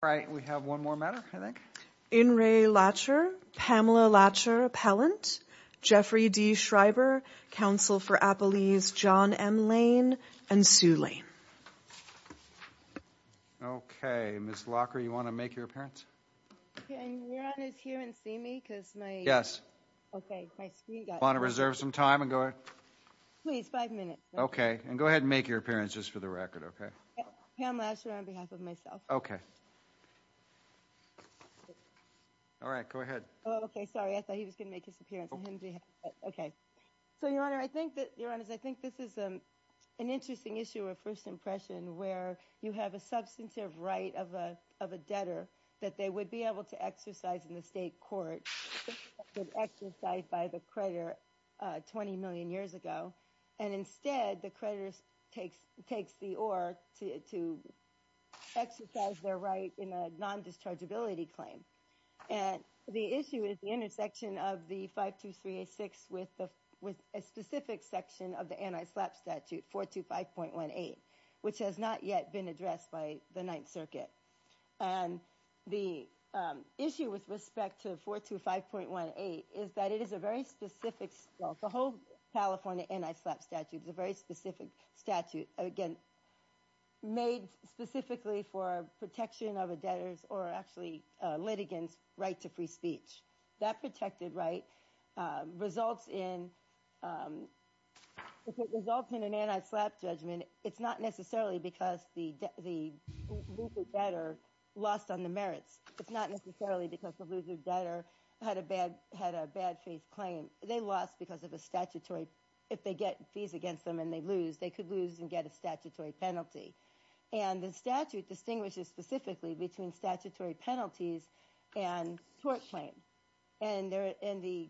Alright we have one more matter I think. In re. Lacher, Pamela Lacher-Pellant, Jeffrey D. Schreiber, Counsel for Appalese John M. Lane, and Sue Lane. Okay Ms. Lacher you want to make your appearance? Can you hear and see me? Yes. I want to reserve some time and go ahead. Please five minutes. Okay and go ahead and make your appearance just for the record okay? Pam Lacher on behalf of myself. Okay. Alright go ahead. Oh okay sorry I thought he was going to make his appearance. Okay so your honor I think that your honors I think this is an interesting issue of first impression where you have a substantive right of a debtor that they would be able to exercise in the state court would exercise by the creditor twenty million years ago and instead the creditor takes the or to exercise their right in a non-dischargeability claim. And the issue is the intersection of the 52386 with a specific section of the anti-slap statute 425.18 which has not yet been addressed by the 9th circuit. And the issue with respect to 425.18 is that it is a very specific the whole California anti-slap statute is a very specific statute again made specifically for protection of a debtor's or actually litigants right to free speech. That protected right results in results in an anti-slap judgment it's not necessarily because the debtor lost on the merits it's not necessarily because the loser debtor had a bad had a bad faith claim they lost because of a statutory if they get fees against them and they lose they could lose and get a statutory penalty. And the statute distinguishes specifically between statutory penalties and tort claim. And there in the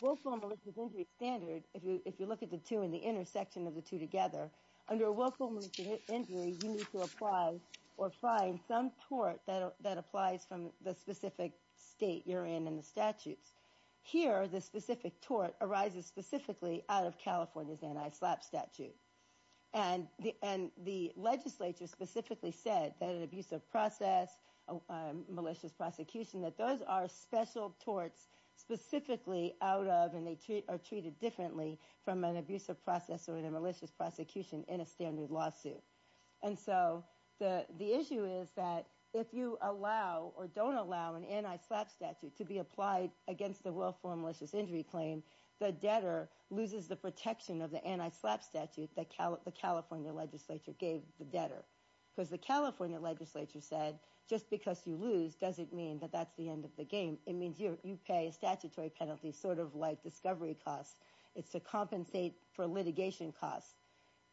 willful and malicious injury standard if you if you look at the two in the intersection of the two together under willful and malicious injury you need to apply or find some tort that that applies from the specific state you're in in the statutes. Here the specific tort arises specifically out of California's anti-slap statute. And the and the legislature specifically said that an abusive process a malicious prosecution that those are special torts specifically out of and they treat are treated differently from an abusive process or in a malicious prosecution in a standard lawsuit. And so the the issue is that if you allow or don't allow an anti-slap statute to be applied against the willful and malicious injury claim the debtor loses the protection of the anti-slap statute that the California legislature gave the debtor. Because the California legislature said just because you lose doesn't mean that that's the end of the game. It means you pay a statutory penalty sort of like discovery costs. It's to compensate for litigation costs.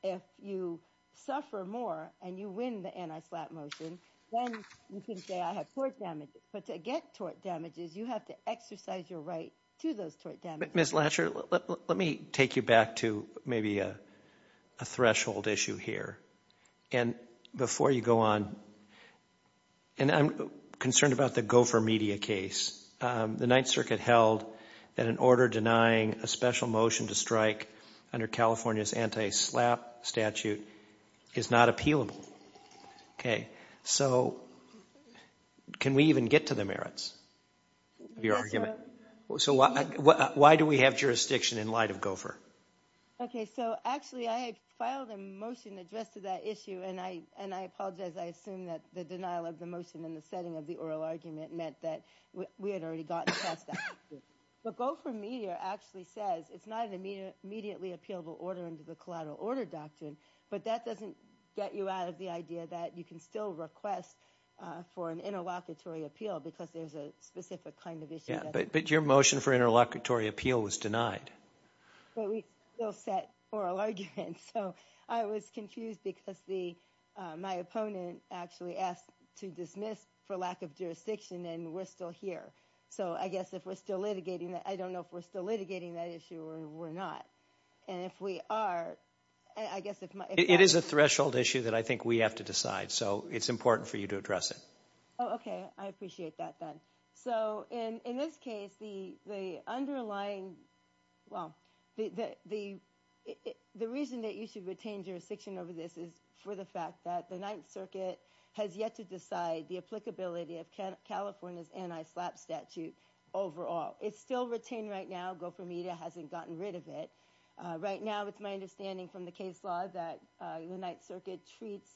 If you suffer more and you win the anti-slap motion then you can say I have tort damages. But to get tort damages you have to exercise your right to those tort damages. Ms. Latcher let me take you back to maybe a threshold issue here. And before you go on and I'm concerned about the gopher media case. The Ninth Circuit held that an order denying a special motion to strike under California's anti-slap statute is not appealable. Okay so can we even get to the merits of your argument? So why do we have jurisdiction in light of gopher? Okay so actually I had filed a motion addressed to that issue and I and I apologize I assume that the denial of the motion in the setting of the oral argument meant that we had already gotten past that. But gopher media actually says it's not an immediately appealable order under the collateral order doctrine. But that doesn't get you out of the idea that you can still request for an interlocutory appeal because there's a specific kind of issue. But your motion for interlocutory appeal was denied. But we still set oral arguments so I was confused because the my opponent actually asked to dismiss for lack of jurisdiction and we're still here. So I guess if we're still litigating that I don't know if we're still litigating that issue or we're not. And if we are I guess it is a threshold issue that I think we have to decide so it's important for you to address it. Okay I appreciate that then. So in in this case the the underlying well the the the reason that you should retain jurisdiction over this is for the fact that the Ninth Circuit has yet to decide the applicability of California's anti-slap statute overall. It's still retained right now. Gopher media hasn't gotten rid of it. Right now it's my understanding from the case law that the Ninth Circuit treats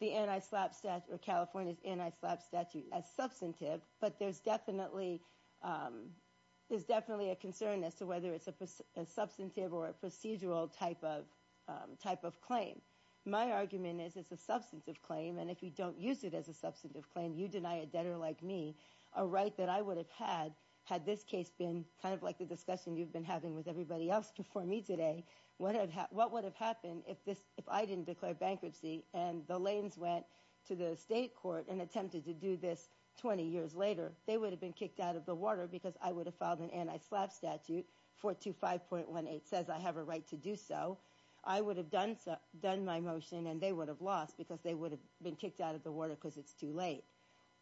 the anti-slap statute or California's anti-slap statute as substantive. But there's definitely there's definitely a concern as to whether it's a substantive or a procedural type of type of claim. My argument is it's a substantive claim and if you don't use it as a substantive claim you deny a debtor like me a right that I would have had had this case been kind of like the discussion you've been having with everybody else before me today what I've had what would have happened if this if I didn't declare bankruptcy and the lanes went to the state court and attempted to do this 20 years later they would have been kicked out of the water because I would have filed an anti-slap statute 425.18 says I have a right to do so. I would have done done my motion and they would have lost because they would have been kicked out of the water because it's too late.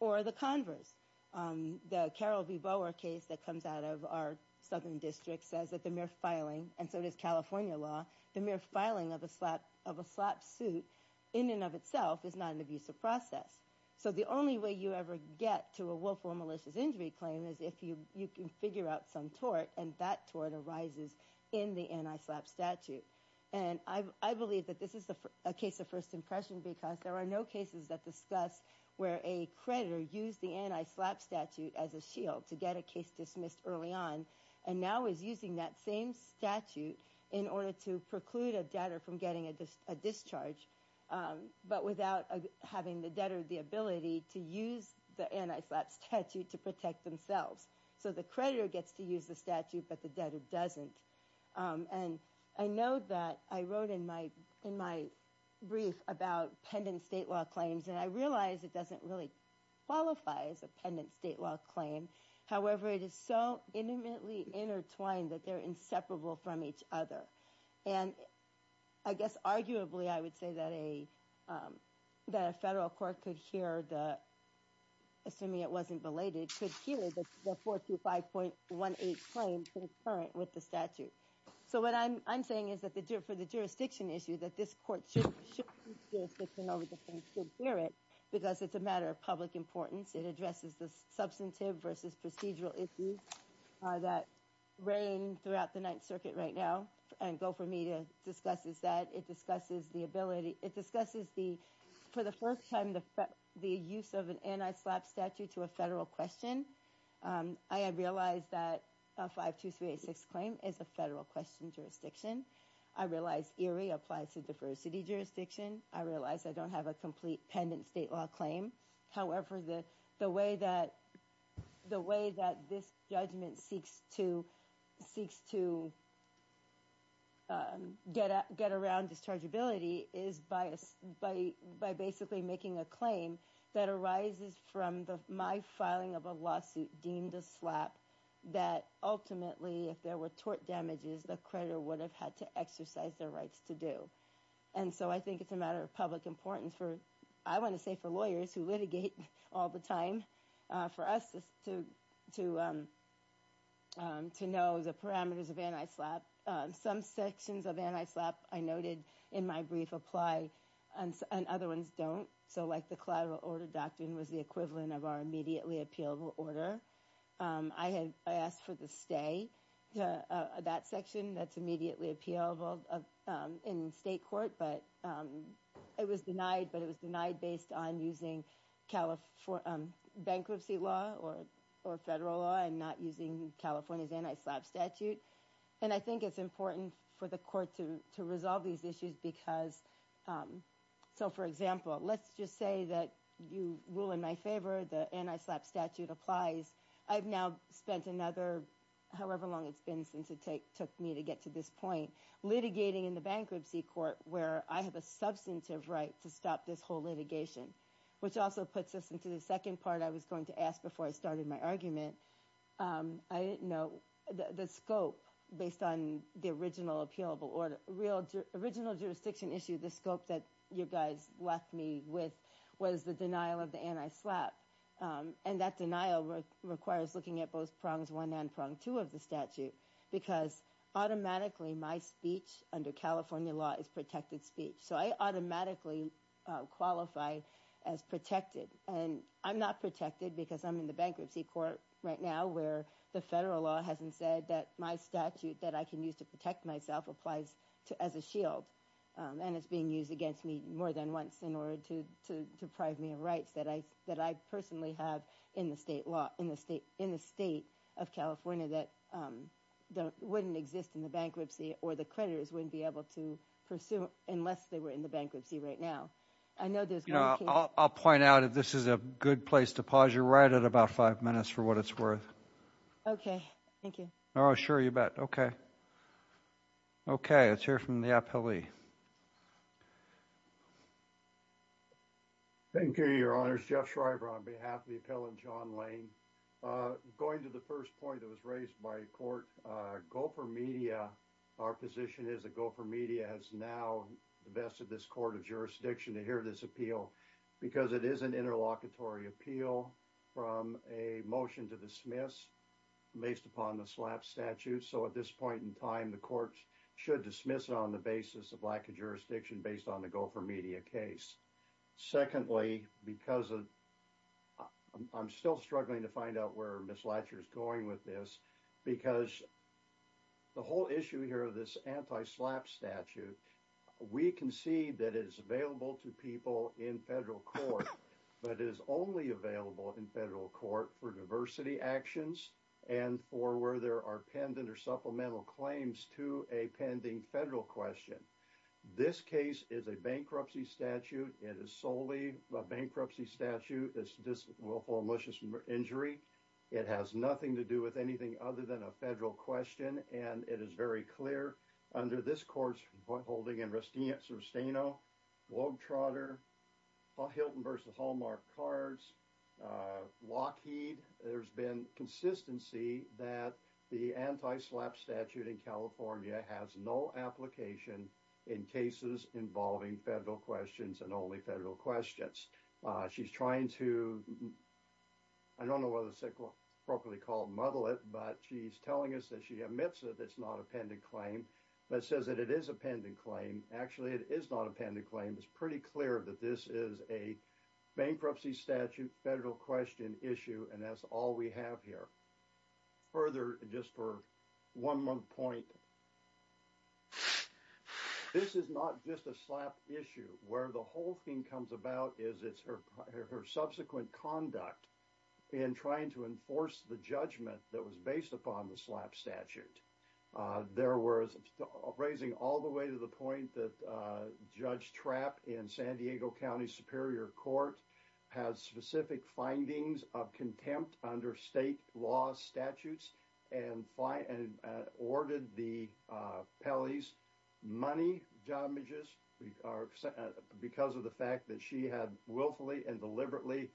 Or the converse the Carol B. Bower case that comes out of our southern district says that the mere filing and so does California law the mere filing of a slap of a slap suit in and of itself is not an abusive process. So the only way you ever get to a willful malicious injury claim is if you you can figure out some tort and that tort arises in the anti-slap statute. And I believe that this is a case of first impression because there are no cases that discuss where a creditor used the anti-slap statute as a shield to get a case dismissed early on and now is using that same statute in order to preclude a debtor from getting a discharge but without having the debtor the ability to use the anti-slap statute to protect themselves. So the creditor gets to use the statute but the debtor doesn't. And I know that I wrote in my in my brief about pendant state law claims and I realize it doesn't really qualify as a pendant state law claim however it is so intimately intertwined that they're inseparable from each other. And I guess arguably I would say that a that a federal court could hear the assuming it wasn't belated could hear the 425.18 claim concurrent with the statute. So what I'm I'm saying is that the for the jurisdiction issue that this court should hear it because it's a matter of public importance. It addresses the substantive versus procedural issues that reign throughout the ninth circuit right now and go for me to discuss is that it discusses the ability it discusses the for the first time the the use of an anti-slap statute to a federal question. I have realized that a 52386 claim is a federal question jurisdiction. I realize Erie applies to diversity jurisdiction. I realize I don't have a complete pendant state law claim. However the the way that the way that this judgment seeks to seeks to get get around dischargeability is by a by by basically making a claim that arises from the filing of a lawsuit deemed a slap that ultimately if there were tort damages the creditor would have had to exercise their rights to do. And so I think it's a matter of public importance for I want to say for lawyers who litigate all the time for us to to to know the parameters of anti-slap. Some sections of anti-slap I noted in my brief apply and other ones don't. So like the order I had I asked for the stay to that section that's immediately appealable in state court but it was denied but it was denied based on using California bankruptcy law or or federal law and not using California's anti-slap statute. And I think it's important for the court to to resolve these issues because so for example let's just say that you rule in my favor the anti-slap statute applies I've now spent another however long it's been since it took me to get to this point litigating in the bankruptcy court where I have a substantive right to stop this whole litigation. Which also puts us into the second part I was going to ask before I started my argument. I didn't know the scope based on the original appealable order real original jurisdiction issue the scope that you guys left me with was the denial of the anti-slap and that denial requires looking at both prongs one and prong two of the statute because automatically my speech under California law is protected speech. So I automatically qualify as protected and I'm not protected because I'm in the bankruptcy court right now where the federal law hasn't said that my statute that I can use to protect myself applies to as a shield. And it's being used against me more than once in order to to deprive me of rights that I that I personally have in the state law in the state in the state of California that wouldn't exist in the bankruptcy or the creditors wouldn't be able to pursue unless they were in the bankruptcy right now. I know there's you know I'll point out if this is a good place to pause you're right at about five minutes for what it's worth. Okay thank you. Oh sure you bet okay okay let's hear from the appellee. Thank you your honors. Jeff Schreiber on behalf of the appellant John Lane. Going to the first point that was raised by court. Gopher Media our position is that Gopher Media has now invested this court of jurisdiction to hear this appeal because it is an interlocutory appeal from a motion to dismiss based upon the slap statute. So at this point in time the courts should dismiss it on the basis of lack of jurisdiction based on the Gopher Media case. Secondly because of I'm still struggling to find out where Ms. Latcher is going with this because the whole issue here of this anti-slap statute we can see that it is available to people in federal court but it is only available in federal court for diversity actions and for where there are pendent or supplemental claims to a pending federal question. This case is a bankruptcy statute. It is solely a bankruptcy statute. It's just willful malicious injury. It has nothing to do with anything other than a federal question and it is very clear under this court's holding in Restino, Wogtrotter, Hilton versus Hallmark Cards, Lockheed there's been consistency that the anti-slap statute in California has no application in cases involving federal questions and only federal questions. She's trying to I don't know whether it's appropriately called muddle it but she's telling us that she admits that it's not a pendent claim but says that it is a pendent claim. Actually it is not a pendent claim. It's pretty clear that this is a bankruptcy statute federal question issue and that's all we have here. Further just for one more point this is not just a slap issue where the whole thing comes about is it's her subsequent conduct in trying to enforce the judgment that was based upon the slap statute. There was raising all the point that Judge Trapp in San Diego County Superior Court has specific findings of contempt under state law statutes and ordered the Pelley's money damages because of the fact that she had willfully and deliberately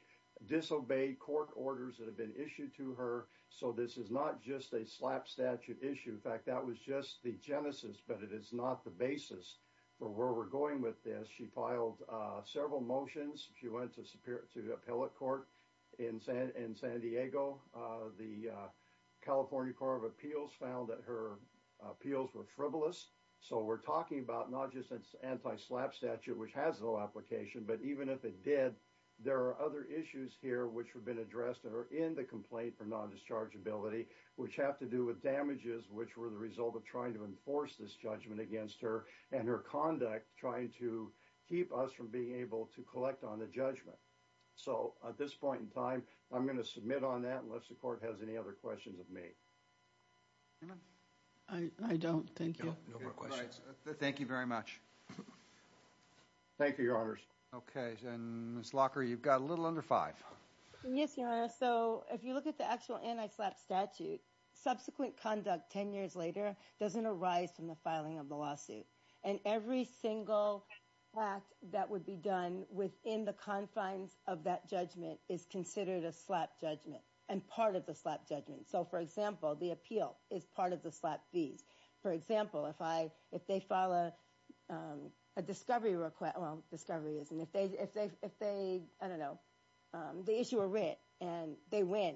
disobeyed court orders that have been issued to her. So this is not just a slap statute issue. In fact that was just the genesis but it is not the basis for where we're going with this. She filed several motions. She went to the appellate court in San Diego. The California Court of Appeals found that her appeals were frivolous. So we're talking about not just anti-slap statute which has no application but even if it did there are other issues here which are in the complaint for non-dischargeability which have to do with damages which were the result of trying to enforce this judgment against her and her conduct trying to keep us from being able to collect on the judgment. So at this point in time I'm going to submit on that unless the court has any other questions of me. I don't. Thank you. No more questions. Thank you very much. Thank you your honors. Okay and Ms. Locker you've got a little under five. Yes your honor. So if you look at the actual anti-slap statute subsequent conduct 10 years later doesn't arise from the filing of the lawsuit and every single act that would be done within the confines of that judgment is considered a slap judgment and part of the slap judgment. So for example the appeal is part of the um a discovery request well discovery isn't if they if they if they I don't know um the issue were writ and they win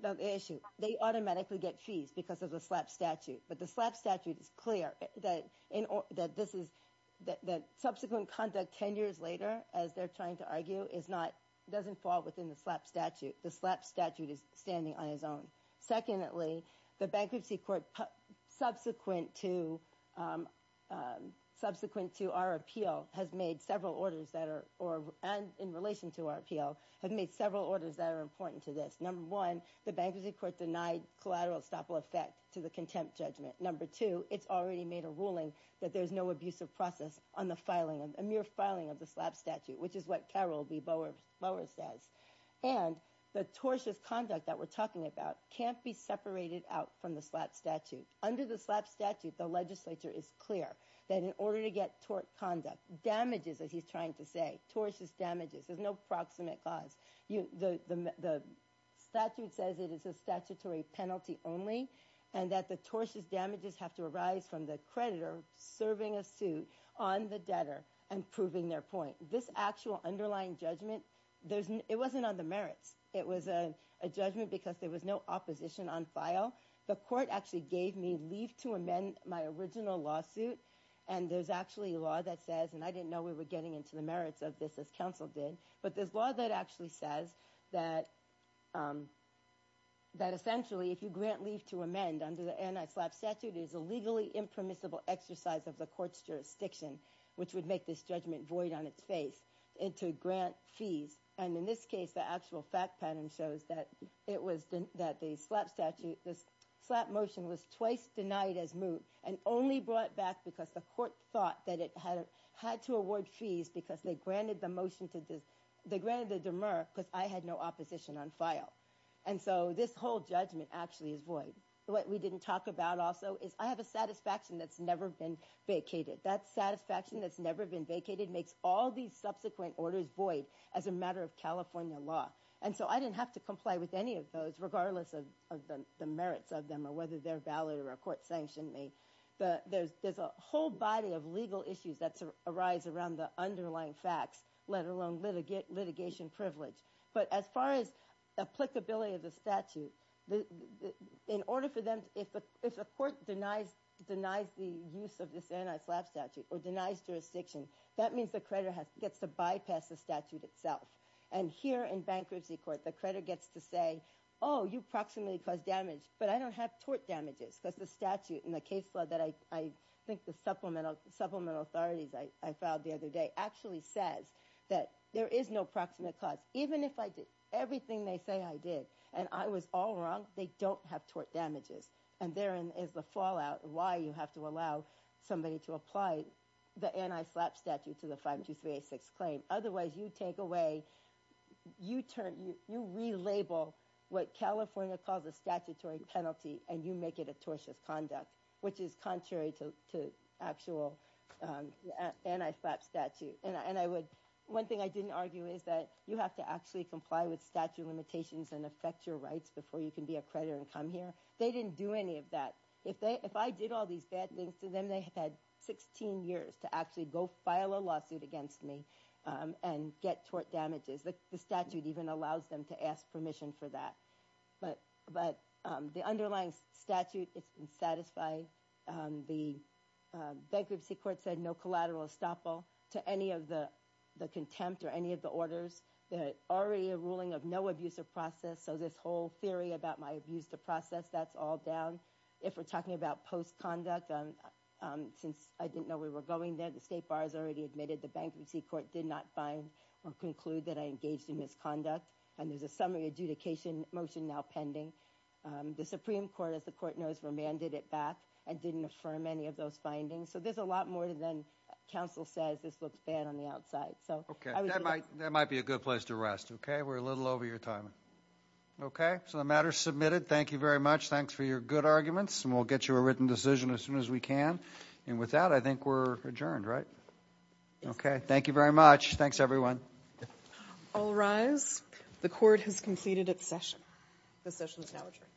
the issue they automatically get fees because of the slap statute but the slap statute is clear that in that this is that subsequent conduct 10 years later as they're trying to argue is not doesn't fall within the slap statute the slap statute is standing on Secondly the bankruptcy court subsequent to um um subsequent to our appeal has made several orders that are or and in relation to our appeal have made several orders that are important to this. Number one the bankruptcy court denied collateral estoppel effect to the contempt judgment. Number two it's already made a ruling that there's no abusive process on the filing of a mere filing of the slap statute which is what Carol B. Bowers says and the tortious conduct that we're talking about can't be separated out from the slap statute. Under the slap statute the legislature is clear that in order to get tort conduct damages as he's trying to say tortious damages there's no proximate cause you the the statute says it is a statutory penalty only and that the tortious damages have to arise from the creditor serving a suit on the debtor and proving their point. This actual underlying judgment there's it wasn't on the merits it was a judgment because there was no opposition on file the court actually gave me leave to amend my original lawsuit and there's actually a law that says and I didn't know we were getting into the merits of this as counsel did but there's law that actually says that um that essentially if you grant leave to amend under the anti-slap statute is a legally impermissible exercise of the court's jurisdiction which would make this judgment void on its face into grant fees and in this case the actual fact pattern shows that it was that the slap statute this slap motion was twice denied as moot and only brought back because the court thought that it had had to award fees because they granted the motion to this they granted the demur because I had no opposition on file and so this whole judgment actually is void what we didn't talk about also is I have a satisfaction that's never been vacated that satisfaction that's never been vacated makes all these subsequent orders void as a matter of California law and so I didn't have to comply with any of those regardless of the merits of them or whether they're valid or a court sanctioned me the there's there's a whole body of legal issues that arise around the underlying facts let alone litigate litigation privilege but as far as applicability of the statute the in order for them if the if the court denies denies the use of this anti-slap statute or denies jurisdiction that means the creditor has gets to bypass the statute itself and here in bankruptcy court the creditor gets to say oh you proximately cause damage but I don't have tort damages because the statute in the case law that I think the supplemental supplemental authorities I filed the other day actually says that there is no proximate cause even if I did everything they say I did and I was all wrong they don't have tort damages and therein is the fallout why you have to allow somebody to apply the anti-slap statute to the 52386 claim otherwise you take away you turn you relabel what California calls a statutory penalty and you make it a tortious conduct which is contrary to to actual anti-slap statute and I would one thing I didn't argue is that you have to actually comply with statute limitations and affect your rights before you can be a creditor and come here they didn't do any of that if they if I did all these bad things to them they had 16 years to actually go file a lawsuit against me um and get tort damages the statute even allows them to ask permission for that but but um the underlying statute it's been satisfied um the bankruptcy court said no collateral estoppel to any of the the contempt or any of the orders already a ruling of no abuse of process so this whole theory about my abuse to process that's all down if we're talking about post-conduct um um since I didn't know we were going there the state bar has already admitted the bankruptcy court did not find or conclude that I engaged in misconduct and there's a summary adjudication motion now pending um the supreme court as the court knows remanded it back and didn't affirm any of those findings so there's a lot more than counsel says this looks bad on the outside so okay that might that might be a good place to rest okay we're a little over your time okay so the matter's submitted thank you very much thanks for your good arguments and we'll get you a written decision as soon as we can and with that I think we're adjourned right okay thank you very much thanks everyone all rise the court has completed its session the session is now adjourned